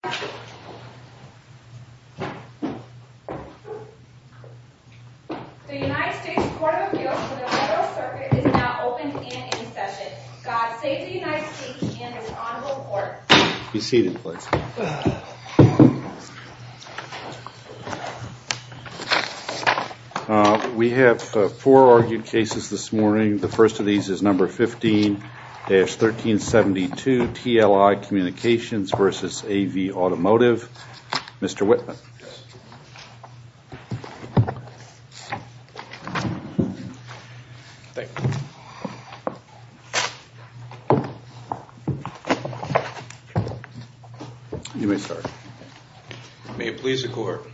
The United States Court of Appeals for the Federal Circuit is now open and in session. God save the United States and his Honorable Court. Be seated please. We have four argued cases this morning. The first of these is number 15-1372, TLI Communications v. AV Automotive. Mr. Whitman. You may start. May it please the Court.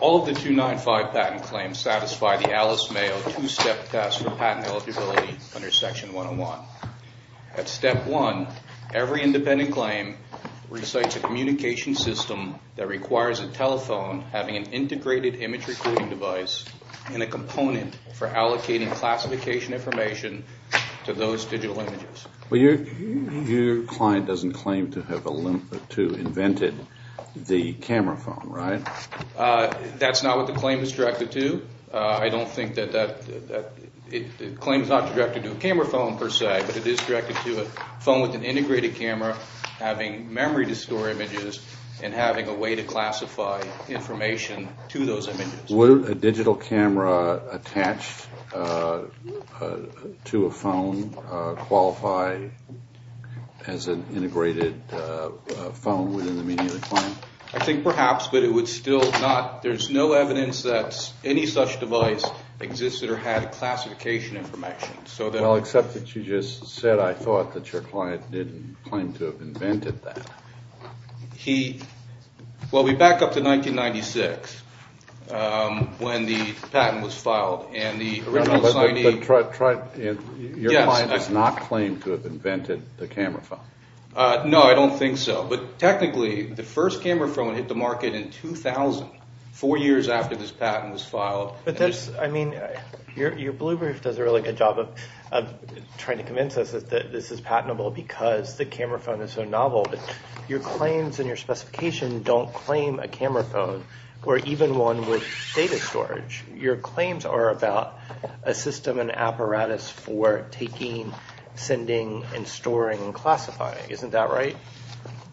All of the 295 patent claims satisfy the Alice Mayo two-step test for patent eligibility under Section 101. At Step 1, every independent claim recites a communication system that requires a telephone having an integrated image recording device and a component for allocating classification information to those digital images. Your client doesn't claim to have invented the camera phone, right? That's not what the claim is directed to. I don't think that that – the claim is not directed to a camera phone per se, but it is directed to a phone with an integrated camera having memory to store images and having a way to classify information to those images. Would a digital camera attached to a phone qualify as an integrated phone within the meaning of the claim? I think perhaps, but it would still not – there's no evidence that any such device existed or had classification information. Well, except that you just said I thought that your client didn't claim to have invented that. He – well, we back up to 1996 when the patent was filed and the original signing – But your client does not claim to have invented the camera phone. No, I don't think so. But technically, the first camera phone hit the market in 2000, four years after this patent was filed. But that's – I mean, your blue brief does a really good job of trying to convince us that this is patentable because the camera phone is so novel. But your claims and your specification don't claim a camera phone or even one with data storage. Your claims are about a system, an apparatus for taking, sending, and storing, and classifying. Isn't that right?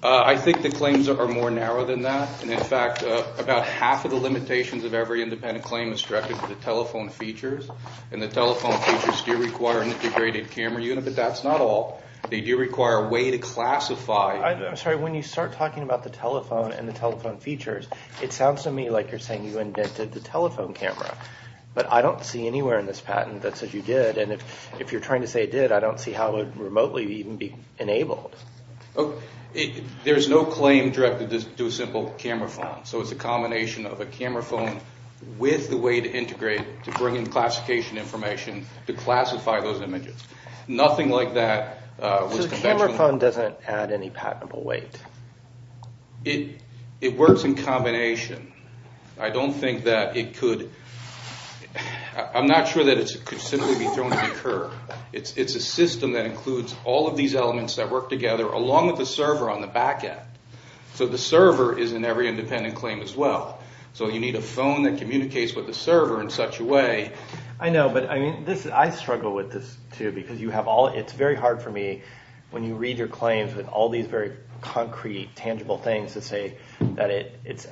I think the claims are more narrow than that. And in fact, about half of the limitations of every independent claim is directed to the telephone features. And the telephone features do require an integrated camera unit, but that's not all. They do require a way to classify – I'm sorry, when you start talking about the telephone and the telephone features, it sounds to me like you're saying you invented the telephone camera. But I don't see anywhere in this patent that says you did. And if you're trying to say it did, I don't see how it would remotely even be enabled. There's no claim directed to a simple camera phone. So it's a combination of a camera phone with the way to integrate, to bring in classification information, to classify those images. Nothing like that was conventionally – So the camera phone doesn't add any patentable weight. It works in combination. I don't think that it could – I'm not sure that it could simply be thrown in the curb. It's a system that includes all of these elements that work together along with the server on the back end. So the server is in every independent claim as well. So you need a phone that communicates with the server in such a way – I know, but I struggle with this too because you have all – it's very hard for me when you read your claims with all these very concrete, tangible things to say that it's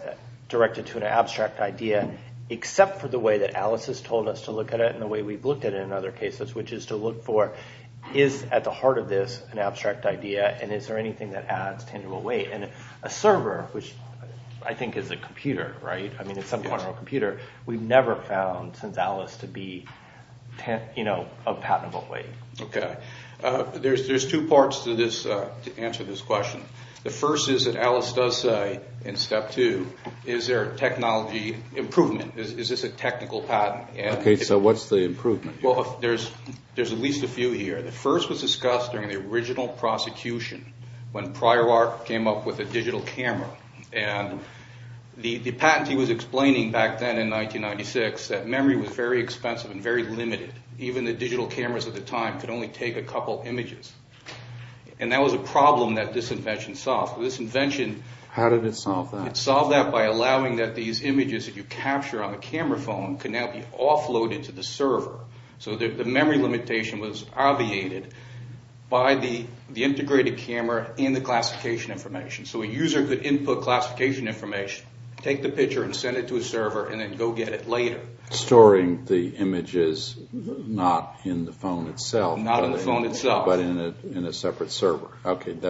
directed to an abstract idea, except for the way that Alice has told us to look at it and the way we've looked at it in other cases, which is to look for is at the heart of this an abstract idea, and is there anything that adds tangible weight? And a server, which I think is a computer, right? I mean at some point it's a computer. We've never found since Alice to be a patentable weight. Okay. There's two parts to this – to answer this question. The first is that Alice does say in step two, is there a technology improvement? Is this a technical patent? Okay, so what's the improvement? Well, there's at least a few here. The first was discussed during the original prosecution when Prior Art came up with a digital camera. And the patent he was explaining back then in 1996 that memory was very expensive and very limited. Even the digital cameras at the time could only take a couple images. And that was a problem that this invention solved. This invention – How did it solve that? It solved that by allowing that these images that you capture on the camera phone can now be offloaded to the server. So the memory limitation was obviated by the integrated camera and the classification information. So a user could input classification information, take the picture, and send it to a server, and then go get it later. Storing the images not in the phone itself. Not in the phone itself. But in a separate server.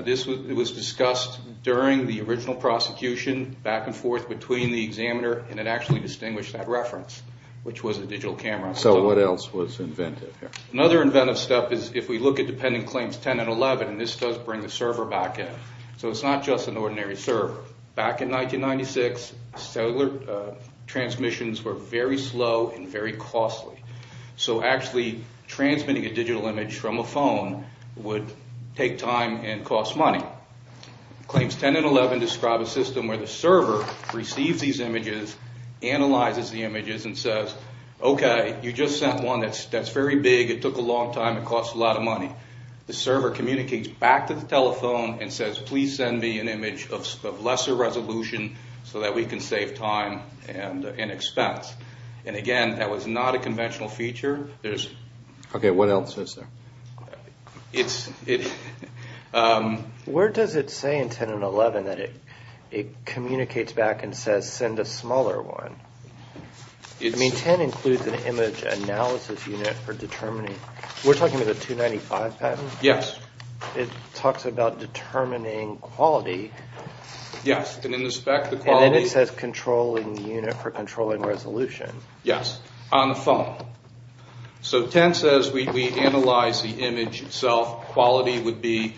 This was discussed during the original prosecution, back and forth between the examiner, and it actually distinguished that reference, which was a digital camera. So what else was invented here? Another inventive step is if we look at dependent claims 10 and 11, and this does bring the server back in. So it's not just an ordinary server. Back in 1996, cellular transmissions were very slow and very costly. So actually transmitting a digital image from a phone would take time and cost money. Claims 10 and 11 describe a system where the server receives these images, analyzes the images, and says, okay, you just sent one that's very big, it took a long time, it cost a lot of money. The server communicates back to the telephone and says, please send me an image of lesser resolution so that we can save time and expense. And again, that was not a conventional feature. Okay, what else is there? Where does it say in 10 and 11 that it communicates back and says, send a smaller one? I mean, 10 includes an image analysis unit for determining. We're talking about the 295 pattern? Yes. It talks about determining quality. Yes, and in the spec, the quality. And then it says controlling unit for controlling resolution. Yes, on the phone. So 10 says we analyze the image itself. Quality would be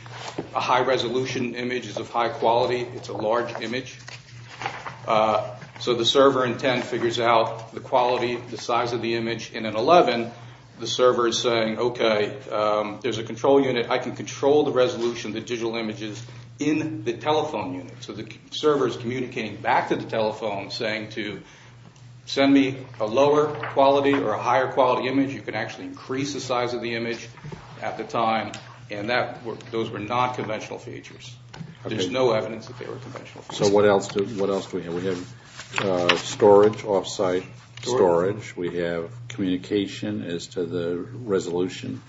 a high resolution image is of high quality. It's a large image. So the server in 10 figures out the quality, the size of the image. And in 11, the server is saying, okay, there's a control unit. I can control the resolution, the digital images in the telephone unit. So the server is communicating back to the telephone saying to send me a lower quality or a higher quality image. You can actually increase the size of the image at the time. And those were not conventional features. There's no evidence that they were conventional features. So what else do we have? We have storage, off-site storage. We have communication as to the resolution.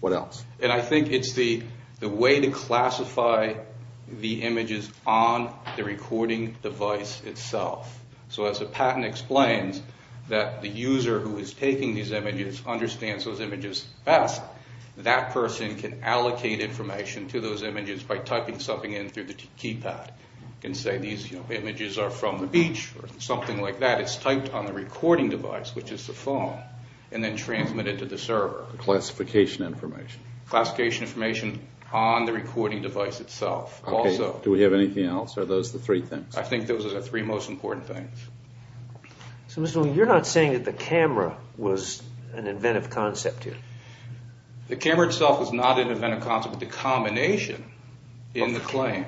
What else? And I think it's the way to classify the images on the recording device itself. So as a patent explains that the user who is taking these images understands those images best, that person can allocate information to those images by typing something in through the keypad. You can say these images are from the beach or something like that. It's typed on the recording device, which is the phone, and then transmitted to the server. Classification information. Classification information on the recording device itself. Do we have anything else? Are those the three things? I think those are the three most important things. So you're not saying that the camera was an inventive concept here? The camera itself was not an inventive concept, but the combination in the claim,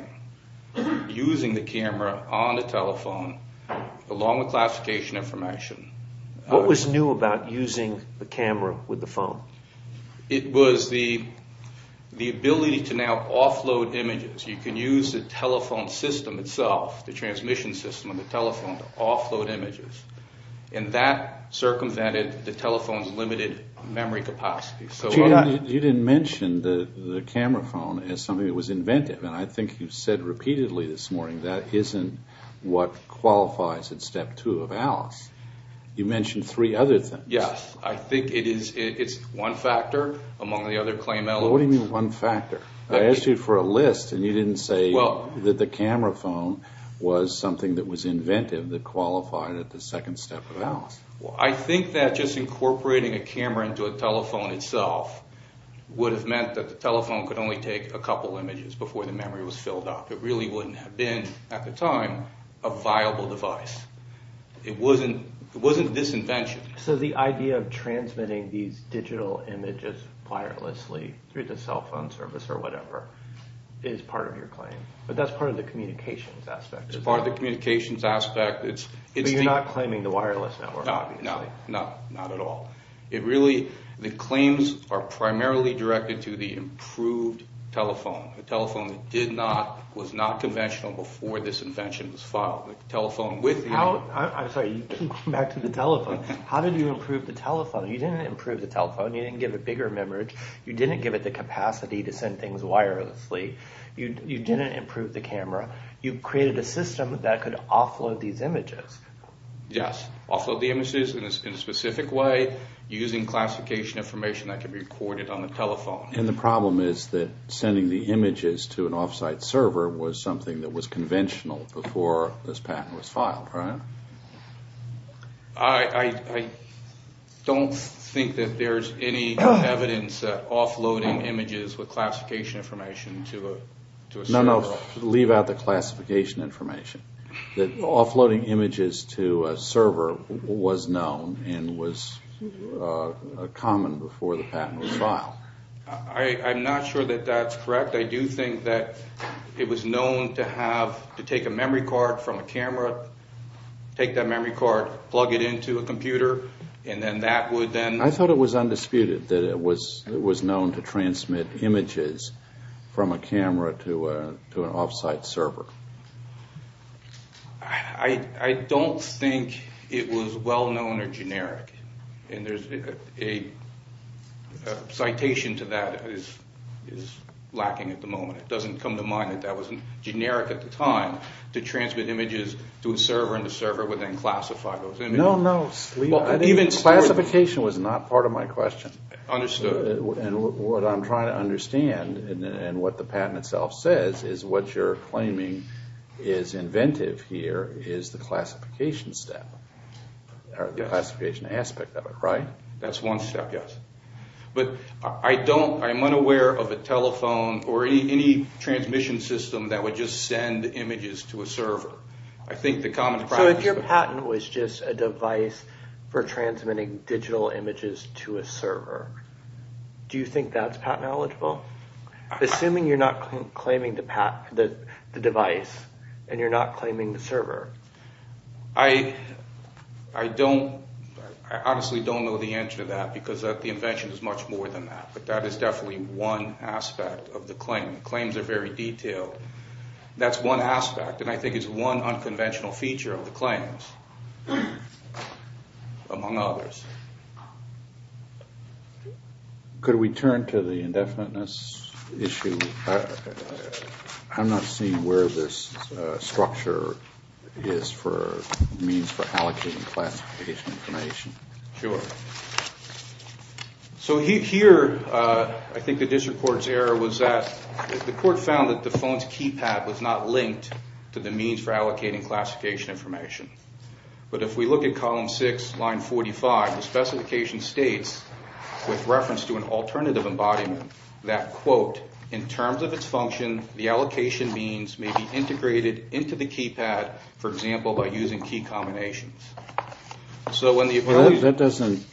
using the camera on the telephone along with classification information. What was new about using the camera with the phone? It was the ability to now offload images. You can use the telephone system itself, the transmission system on the telephone, to offload images. And that circumvented the telephone's limited memory capacity. But you didn't mention the camera phone as something that was inventive, and I think you've said repeatedly this morning that isn't what qualifies in Step 2 of ALICE. You mentioned three other things. Yes. I think it's one factor among the other claim elements. What do you mean one factor? I asked you for a list, and you didn't say that the camera phone was something that was inventive that qualified at the second step of ALICE. Well, I think that just incorporating a camera into a telephone itself would have meant that the telephone could only take a couple images before the memory was filled up. It really wouldn't have been, at the time, a viable device. It wasn't this invention. So the idea of transmitting these digital images wirelessly through the cell phone service or whatever is part of your claim. But that's part of the communications aspect. It's part of the communications aspect. But you're not claiming the wireless network, obviously. No, not at all. The claims are primarily directed to the improved telephone, a telephone that was not conventional before this invention was filed. I'm sorry, back to the telephone. How did you improve the telephone? You didn't improve the telephone. You didn't give it bigger memory. You didn't give it the capacity to send things wirelessly. You didn't improve the camera. You created a system that could offload these images. Yes. Offload the images in a specific way using classification information that can be recorded on the telephone. And the problem is that sending the images to an off-site server was something that was conventional before this patent was filed, right? I don't think that there's any evidence offloading images with classification information to a server. No, no. Leave out the classification information. Offloading images to a server was known and was common before the patent was filed. I'm not sure that that's correct. I do think that it was known to take a memory card from a camera, take that memory card, plug it into a computer, and then that would then... I don't think it was well-known or generic. And there's a citation to that that is lacking at the moment. It doesn't come to mind that that wasn't generic at the time. To transmit images to a server and the server would then classify those images. No, no. Even... Classification was not part of my question. Understood. What I'm trying to understand and what the patent itself says is what you're claiming is inventive here is the classification step. The classification aspect of it, right? That's one step, yes. But I don't... I'm unaware of a telephone or any transmission system that would just send images to a server. So if your patent was just a device for transmitting digital images to a server, do you think that's patent eligible? Assuming you're not claiming the device and you're not claiming the server. I don't... I honestly don't know the answer to that because the invention is much more than that. But that is definitely one aspect of the claim. The claims are very detailed. That's one aspect. And I think it's one unconventional feature of the claims among others. Could we turn to the indefiniteness issue? I'm not seeing where this structure is for means for allocating classification information. Sure. So here I think the district court's error was that the court found that the phone's keypad was not linked to the means for allocating classification information. But if we look at column six, line 45, the specification states with reference to an alternative embodiment that, quote, in terms of its function, the allocation means may be integrated into the keypad, for example, by using key combinations. So when the... That doesn't...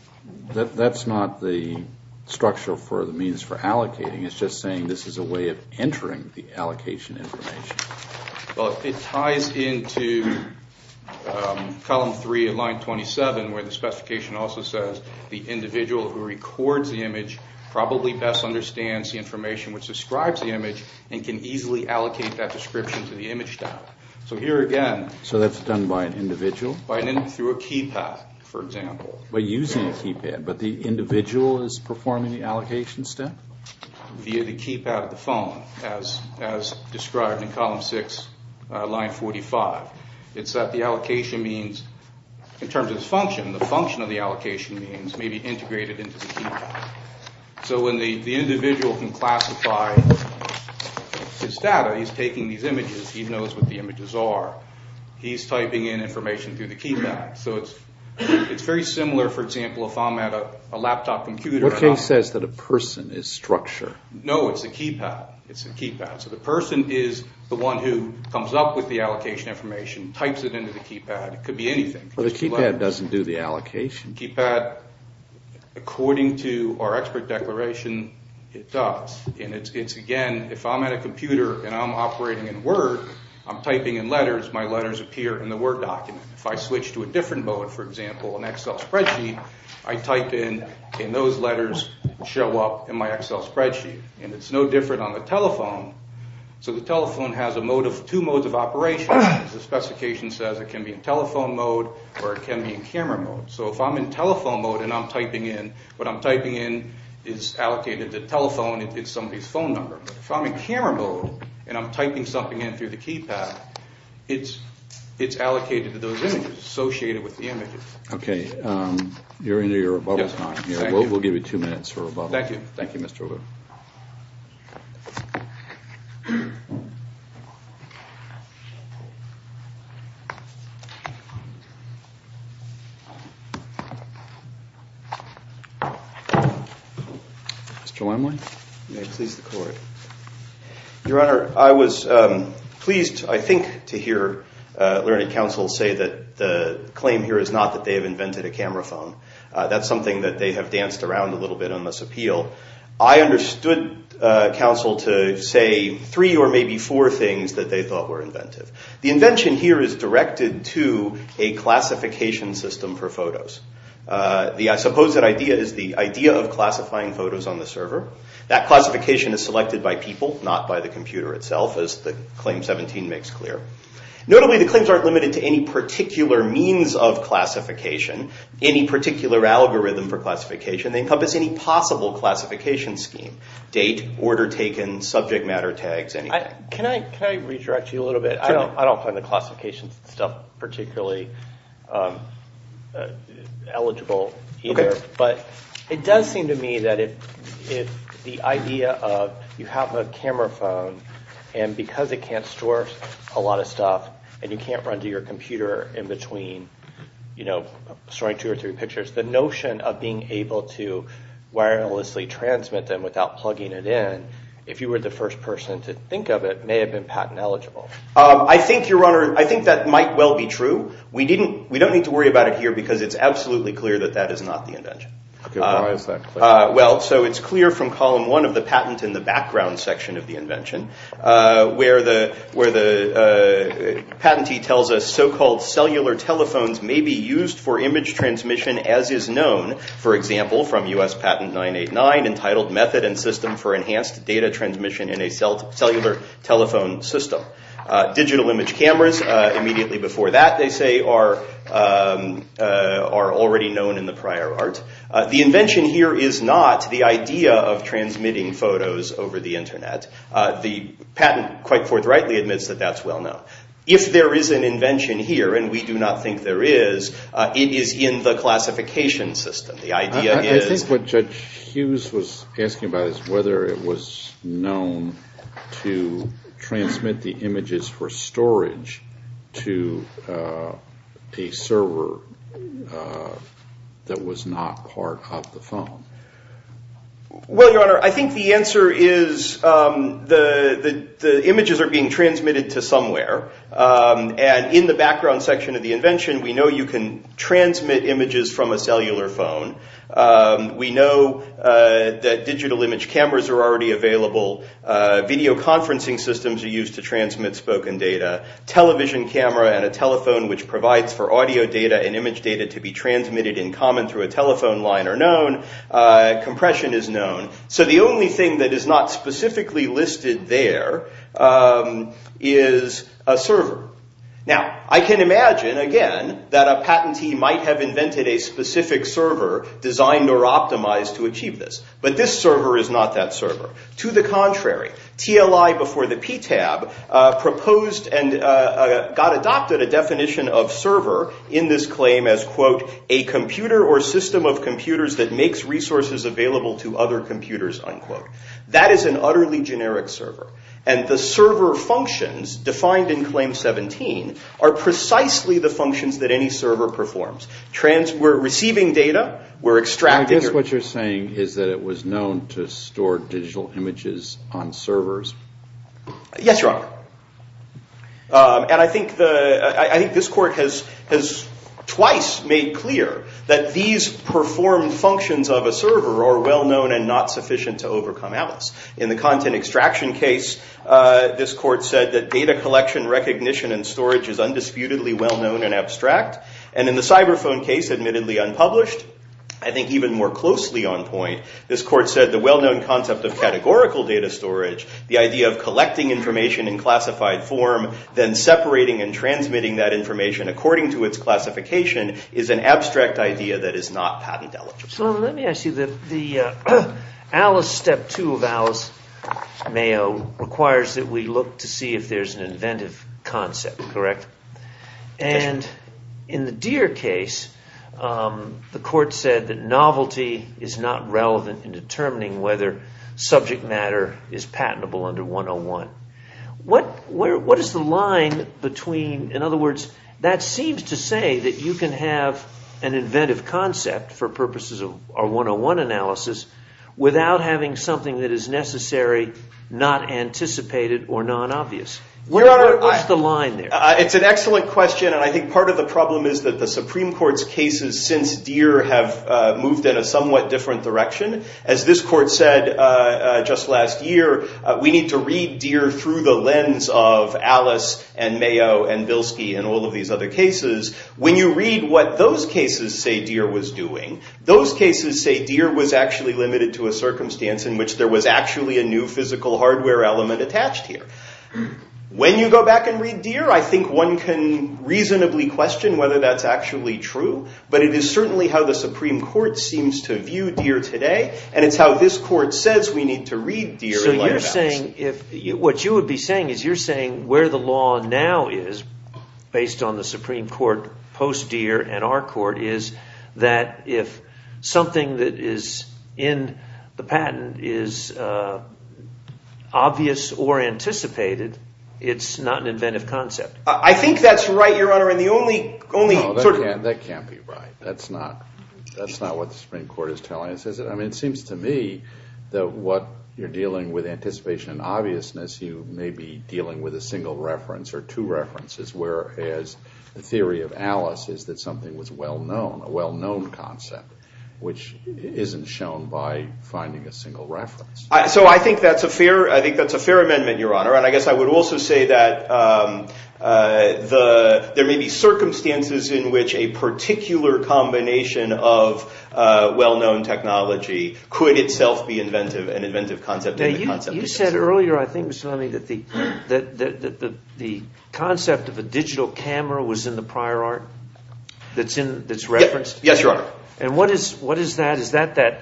That's not the structure for the means for allocating. It's just saying this is a way of entering the allocation information. Well, it ties into column three of line 27 where the specification also says the individual who records the image probably best understands the information which describes the image and can easily allocate that description to the image tab. So here again... So that's done by an individual? By an individual through a keypad, for example. By using a keypad, but the individual is performing the allocation step? Via the keypad of the phone, as described in column six, line 45. It's that the allocation means, in terms of its function, the function of the allocation means may be integrated into the keypad. So when the individual can classify his data, he's taking these images, he knows what the images are. He's typing in information through the keypad. So it's very similar, for example, if I'm at a laptop computer... What case says that a person is structure? No, it's a keypad. It's a keypad. So the person is the one who comes up with the allocation information, types it into the keypad. It could be anything. Well, the keypad doesn't do the allocation. Keypad, according to our expert declaration, it does. And it's, again, if I'm at a computer and I'm operating in Word, I'm typing in letters, my letters appear in the Word document. If I switch to a different mode, for example, an Excel spreadsheet, I type in, and those letters show up in my Excel spreadsheet. And it's no different on the telephone. So the telephone has two modes of operation. The specification says it can be in telephone mode or it can be in camera mode. So if I'm in telephone mode and I'm typing in, what I'm typing in is allocated to telephone. It's somebody's phone number. If I'm in camera mode and I'm typing something in through the keypad, it's allocated to those images, associated with the images. Okay. You're into your rebuttal time here. Yes, I am. We'll give you two minutes for rebuttal. Thank you. Thank you, Mr. Wood. Mr. Limelight. May it please the Court. Your Honor, I was pleased, I think, to hear Learning Council say that the claim here is not that they have invented a camera phone. That's something that they have danced around a little bit on this appeal. I understood, Counsel, to say three or maybe four things that they thought were inventive. The invention here is directed to a classification system for photos. I suppose that idea is the idea of classifying photos on the server. That classification is selected by people, not by the computer itself, as the Claim 17 makes clear. Notably, the claims aren't limited to any particular means of classification, any particular algorithm for classification. They encompass any possible classification scheme, date, order taken, subject matter tags, anything. Can I redirect you a little bit? I don't find the classification stuff particularly eligible either. Okay. But it does seem to me that if the idea of you have a camera phone and because it can't store a lot of stuff and you can't run to your computer in between, you know, storing two or three pictures, the notion of being able to wirelessly transmit them without plugging it in, if you were the first person to think of it, may have been patent eligible. I think, Your Honor, I think that might well be true. We don't need to worry about it here because it's absolutely clear that that is not the invention. Okay. Why is that clear? Well, so it's clear from column one of the patent in the background section of the invention where the patentee tells us so-called cellular telephones may be used for image transmission as is known, for example, from U.S. Patent 989, entitled Method and System for Enhanced Data Transmission in a Cellular Telephone System. Digital image cameras immediately before that, they say, are already known in the prior art. The invention here is not the idea of transmitting photos over the Internet. The patent quite forthrightly admits that that's well known. If there is an invention here, and we do not think there is, it is in the classification system. I think what Judge Hughes was asking about is whether it was known to transmit the images for storage to a server that was not part of the phone. Well, Your Honor, I think the answer is the images are being transmitted to somewhere. And in the background section of the invention, we know you can transmit images from a cellular phone. We know that digital image cameras are already available. Video conferencing systems are used to transmit spoken data. Television camera and a telephone which provides for audio data and image data to be transmitted in common through a telephone line are known. Compression is known. So the only thing that is not specifically listed there is a server. Now, I can imagine, again, that a patentee might have invented a specific server designed or optimized to achieve this. But this server is not that server. To the contrary, TLI before the PTAB proposed and got adopted a definition of server in this claim as, quote, a computer or system of computers that makes resources available to other computers, unquote. That is an utterly generic server. And the server functions defined in Claim 17 are precisely the functions that any server performs. We're receiving data. We're extracting. I guess what you're saying is that it was known to store digital images on servers. Yes, Your Honor. And I think this court has twice made clear that these performed functions of a server are well-known and not sufficient to overcome Alice. In the content extraction case, this court said that data collection, recognition, and storage is undisputedly well-known and abstract. And in the cyber phone case, admittedly unpublished, I think even more closely on point, this court said the well-known concept of categorical data storage, the idea of collecting information in classified form, then separating and transmitting that information according to its classification, is an abstract idea that is not patentee. Well, let me ask you that the Alice Step 2 of Alice Mayo requires that we look to see if there's an inventive concept, correct? And in the Deere case, the court said that novelty is not relevant in determining whether subject matter is patentable under 101. What is the line between, in other words, that seems to say that you can have an inventive concept for purposes of our 101 analysis without having something that is necessary, not anticipated, or non-obvious. What's the line there? It's an excellent question. And I think part of the problem is that the Supreme Court's cases since Deere have moved in a somewhat different direction. As this court said just last year, we need to read Deere through the lens of Alice and Mayo and Bilski and all of these other cases. When you read what those cases say Deere was doing, those cases say Deere was actually limited to a circumstance in which there was actually a new physical hardware element attached here. When you go back and read Deere, I think one can reasonably question whether that's actually true. But it is certainly how the Supreme Court seems to view Deere today. And it's how this court says we need to read Deere in light of Alice. What you would be saying is you're saying where the law now is, based on the Supreme Court post-Deere and our court, is that if something that is in the patent is obvious or anticipated, it's not an inventive concept. I think that's right, Your Honor. That can't be right. That's not what the Supreme Court is telling us, is it? It seems to me that what you're dealing with, anticipation and obviousness, you may be dealing with a single reference or two references, whereas the theory of Alice is that something was well-known, a well-known concept, which isn't shown by finding a single reference. So I think that's a fair amendment, Your Honor. And I guess I would also say that there may be circumstances in which a particular combination of well-known technology could itself be an inventive concept. You said earlier, I think, Mr. Lemme, that the concept of a digital camera was in the prior art that's referenced. Yes, Your Honor. And what is that? Is that the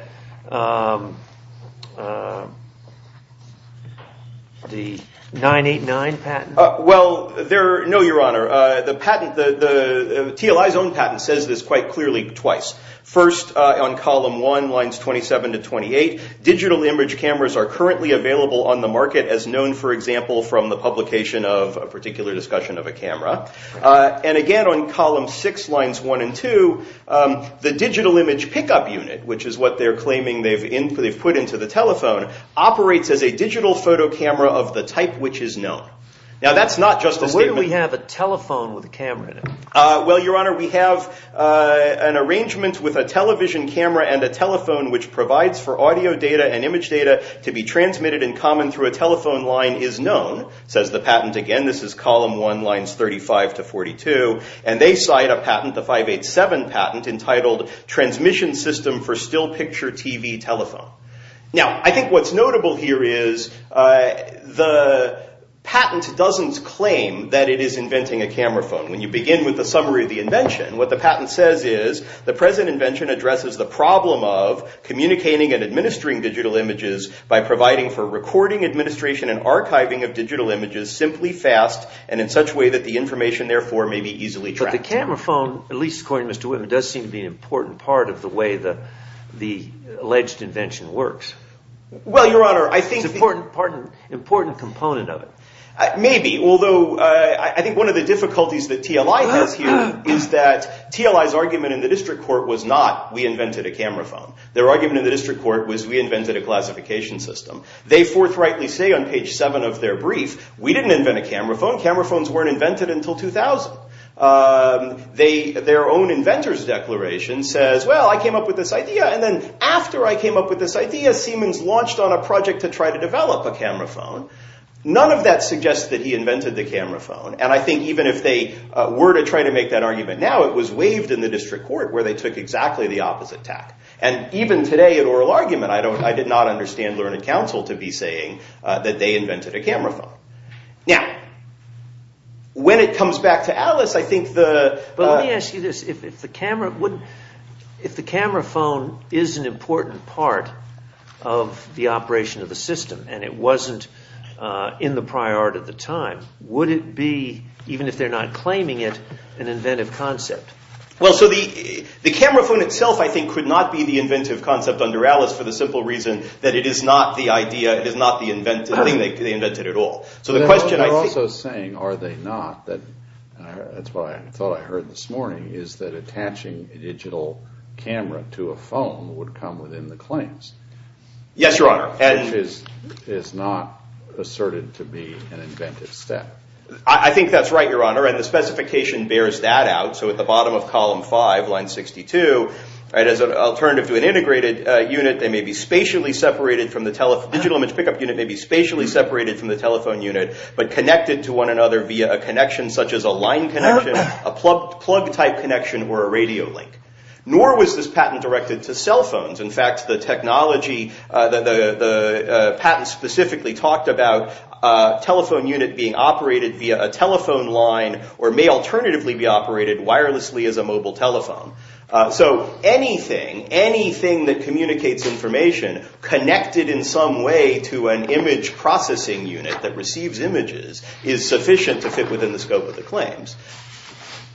989 patent? Well, no, Your Honor. The patent, TLI's own patent, says this quite clearly twice. First, on column one, lines 27 to 28, digital image cameras are currently available on the market, as known, for example, from the publication of a particular discussion of a camera. And again, on column six, lines one and two, the digital image pickup unit, which is what they're claiming they've put into the telephone, operates as a digital photo camera of the type which is known. Now, that's not just a statement. But where do we have a telephone with a camera in it? Well, Your Honor, we have an arrangement with a television camera and a telephone, which provides for audio data and image data to be transmitted in common through a telephone line, is known, says the patent. Again, this is column one, lines 35 to 42. And they cite a patent, the 587 patent, entitled Transmission System for Still Picture TV Telephone. Now, I think what's notable here is the patent doesn't claim that it is inventing a camera phone. When you begin with the summary of the invention, what the patent says is, the present invention addresses the problem of communicating and administering digital images by providing for recording, administration, and archiving of digital images simply, fast, and in such a way that the information, therefore, may be easily tracked. But the camera phone, at least according to Mr. Whitman, does seem to be an important part of the way the alleged invention works. Well, Your Honor, I think – It's an important component of it. Maybe, although I think one of the difficulties that TLI has here is that TLI's argument in the district court was not, we invented a camera phone. Their argument in the district court was, we invented a classification system. They forthrightly say on page seven of their brief, we didn't invent a camera phone. Camera phones weren't invented until 2000. Their own inventor's declaration says, well, I came up with this idea. And then after I came up with this idea, Siemens launched on a project to try to develop a camera phone. None of that suggests that he invented the camera phone. And I think even if they were to try to make that argument now, it was waived in the district court where they took exactly the opposite tack. And even today in oral argument, I did not understand learned counsel to be saying that they invented a camera phone. Now, when it comes back to Alice, I think the – But let me ask you this. If the camera phone is an important part of the operation of the system and it wasn't in the prior art at the time, would it be, even if they're not claiming it, an inventive concept? Well, so the camera phone itself, I think, could not be the inventive concept under Alice for the simple reason that it is not the idea. It is not the thing they invented at all. So the question I think – You're also saying, are they not, that's what I thought I heard this morning, is that attaching a digital camera to a phone would come within the claims. Yes, Your Honor. Which is not asserted to be an inventive step. I think that's right, Your Honor. And the specification bears that out. So at the bottom of column 5, line 62, as an alternative to an integrated unit, they may be spatially separated from the – digital image pickup unit may be spatially separated from the telephone unit, but connected to one another via a connection such as a line connection, a plug-type connection, or a radio link. Nor was this patent directed to cell phones. In fact, the technology – the patent specifically talked about telephone unit being operated via a telephone line or may alternatively be operated wirelessly as a mobile telephone. So anything, anything that communicates information, connected in some way to an image processing unit that receives images, is sufficient to fit within the scope of the claims.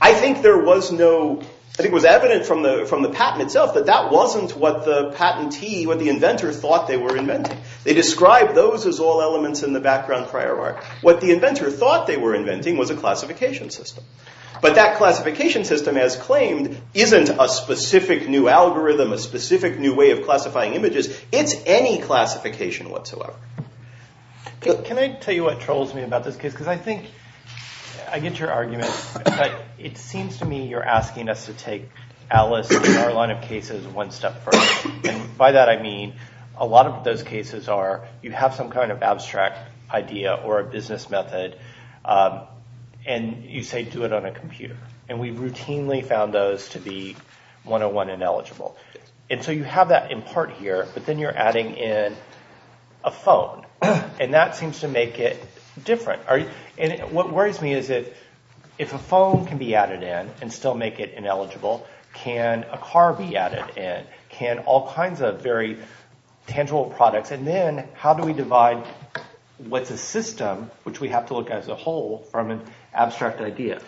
I think there was no – I think it was evident from the patent itself that that wasn't what the patentee, what the inventor thought they were inventing. They described those as all elements in the background prior art. What the inventor thought they were inventing was a classification system. But that classification system, as claimed, isn't a specific new algorithm, a specific new way of classifying images. It's any classification whatsoever. Can I tell you what troubles me about this case? Because I think – I get your argument, but it seems to me you're asking us to take Alice and our line of cases one step further. And by that I mean a lot of those cases are you have some kind of abstract idea or a business method and you say do it on a computer. And we routinely found those to be 101 ineligible. And so you have that in part here, but then you're adding in a phone. And that seems to make it different. And what worries me is that if a phone can be added in and still make it ineligible, can a car be added in? Can all kinds of very tangible products? And then how do we divide what's a system, which we have to look at as a whole, from an abstract idea?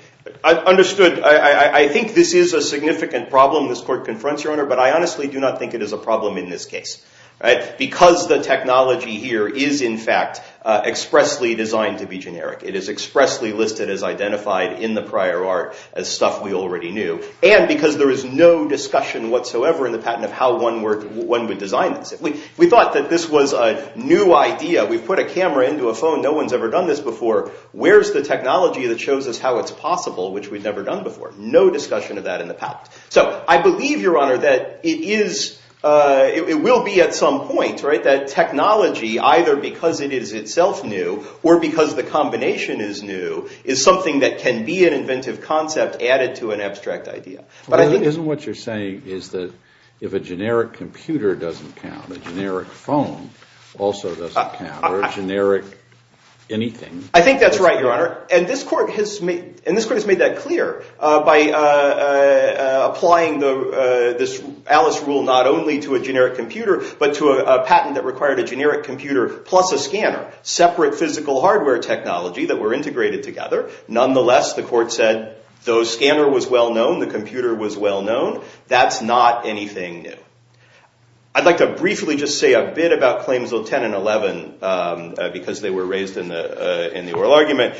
Understood. I think this is a significant problem this court confronts you on, but I honestly do not think it is a problem in this case. Because the technology here is, in fact, expressly designed to be generic. It is expressly listed as identified in the prior art as stuff we already knew. And because there is no discussion whatsoever in the patent of how one would design this. We thought that this was a new idea. We've put a camera into a phone. No one's ever done this before. Where's the technology that shows us how it's possible, which we've never done before? No discussion of that in the patent. So I believe, Your Honor, that it will be at some point that technology, either because it is itself new or because the combination is new, is something that can be an inventive concept added to an abstract idea. But isn't what you're saying is that if a generic computer doesn't count, a generic phone also doesn't count, or a generic anything? I think that's right, Your Honor. And this court has made that clear by applying this Alice rule not only to a generic computer, but to a patent that required a generic computer plus a scanner, separate physical hardware technology that were integrated together. Nonetheless, the court said the scanner was well-known, the computer was well-known. That's not anything new. I'd like to briefly just say a bit about claims 10 and 11 because they were raised in the oral argument.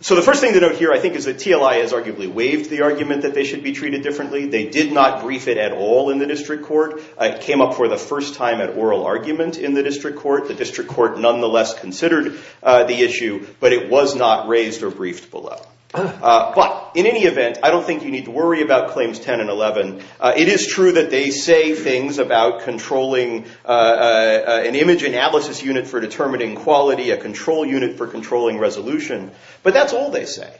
So the first thing to note here, I think, is that TLI has arguably waived the argument that they should be treated differently. They did not brief it at all in the district court. It came up for the first time at oral argument in the district court. The district court nonetheless considered the issue, but it was not raised or briefed below. But in any event, I don't think you need to worry about claims 10 and 11. It is true that they say things about controlling an image analysis unit for determining quality, a control unit for controlling resolution, but that's all they say.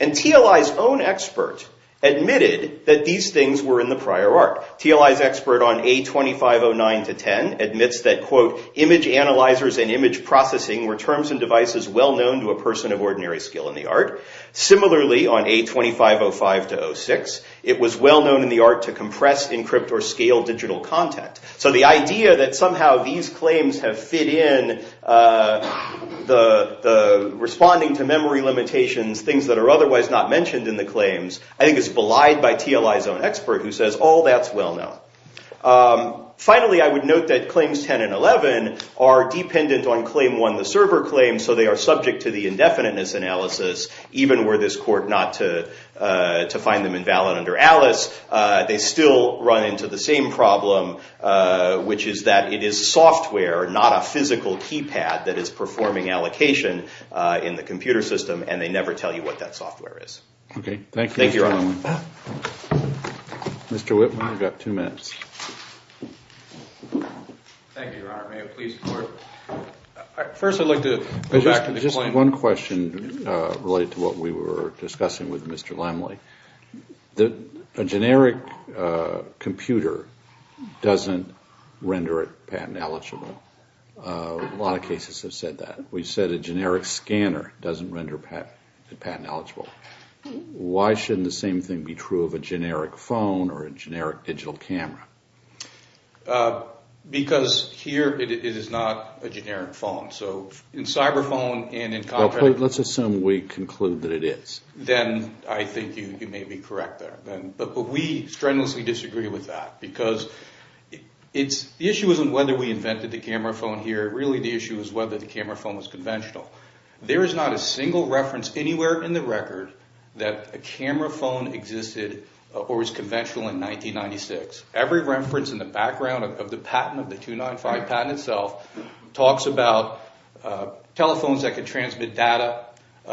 And TLI's own expert admitted that these things were in the prior art. TLI's expert on A2509-10 admits that, quote, image analyzers and image processing were terms and devices well-known to a person of ordinary skill in the art. Similarly, on A2505-06, it was well-known in the art to compress, encrypt, or scale digital content. So the idea that somehow these claims have fit in the responding to memory limitations, things that are otherwise not mentioned in the claims, I think is belied by TLI's own expert who says all that's well-known. Finally, I would note that claims 10 and 11 are dependent on claim one, the server claim, so they are subject to the indefiniteness analysis, even were this court not to find them invalid under Alice. They still run into the same problem, which is that it is software, not a physical keypad, that is performing allocation in the computer system, and they never tell you what that software is. Okay. Thank you, Mr. Whitman. Mr. Whitman, you've got two minutes. Thank you, Your Honor. May it please the Court? First, I'd like to go back to the claim. Just one question related to what we were discussing with Mr. Laemmle. A generic computer doesn't render it patent eligible. A lot of cases have said that. We've said a generic scanner doesn't render it patent eligible. Why shouldn't the same thing be true of a generic phone or a generic digital camera? Because here it is not a generic phone. So in cyber phone and in contract… Let's assume we conclude that it is. Then I think you may be correct there. But we strenuously disagree with that because the issue isn't whether we invented the camera phone here. Really the issue is whether the camera phone was conventional. There is not a single reference anywhere in the record that a camera phone existed or was conventional in 1996. Every reference in the background of the patent, of the 295 patent itself, talks about telephones that could transmit data,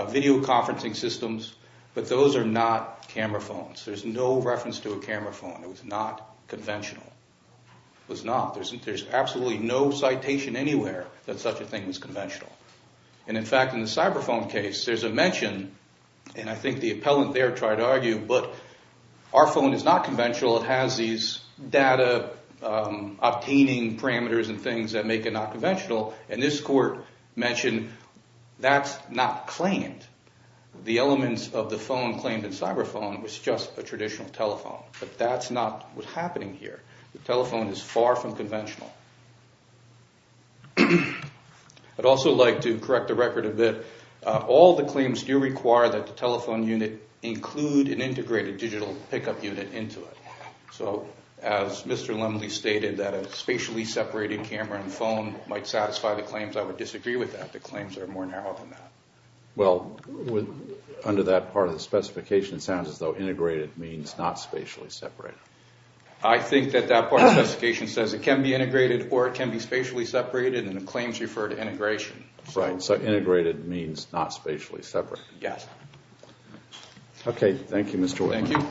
video conferencing systems, but those are not camera phones. There's no reference to a camera phone. It was not conventional. It was not. There's absolutely no citation anywhere that such a thing was conventional. In fact, in the cyber phone case, there's a mention, and I think the appellant there tried to argue, but our phone is not conventional. It has these data obtaining parameters and things that make it not conventional, and this court mentioned that's not claimed. The elements of the phone claimed in cyber phone was just a traditional telephone, but that's not what's happening here. The telephone is far from conventional. I'd also like to correct the record a bit. All the claims do require that the telephone unit include an integrated digital pickup unit into it, so as Mr. Lumley stated, that a spatially separated camera and phone might satisfy the claims. I would disagree with that. The claims are more narrow than that. Well, under that part of the specification, it sounds as though integrated means not spatially separated. I think that that part of the specification says it can be integrated or it can be spatially separated, and the claims refer to integration. Right, so integrated means not spatially separated. Yes. Okay, thank you, Mr. Whitman. Thank you.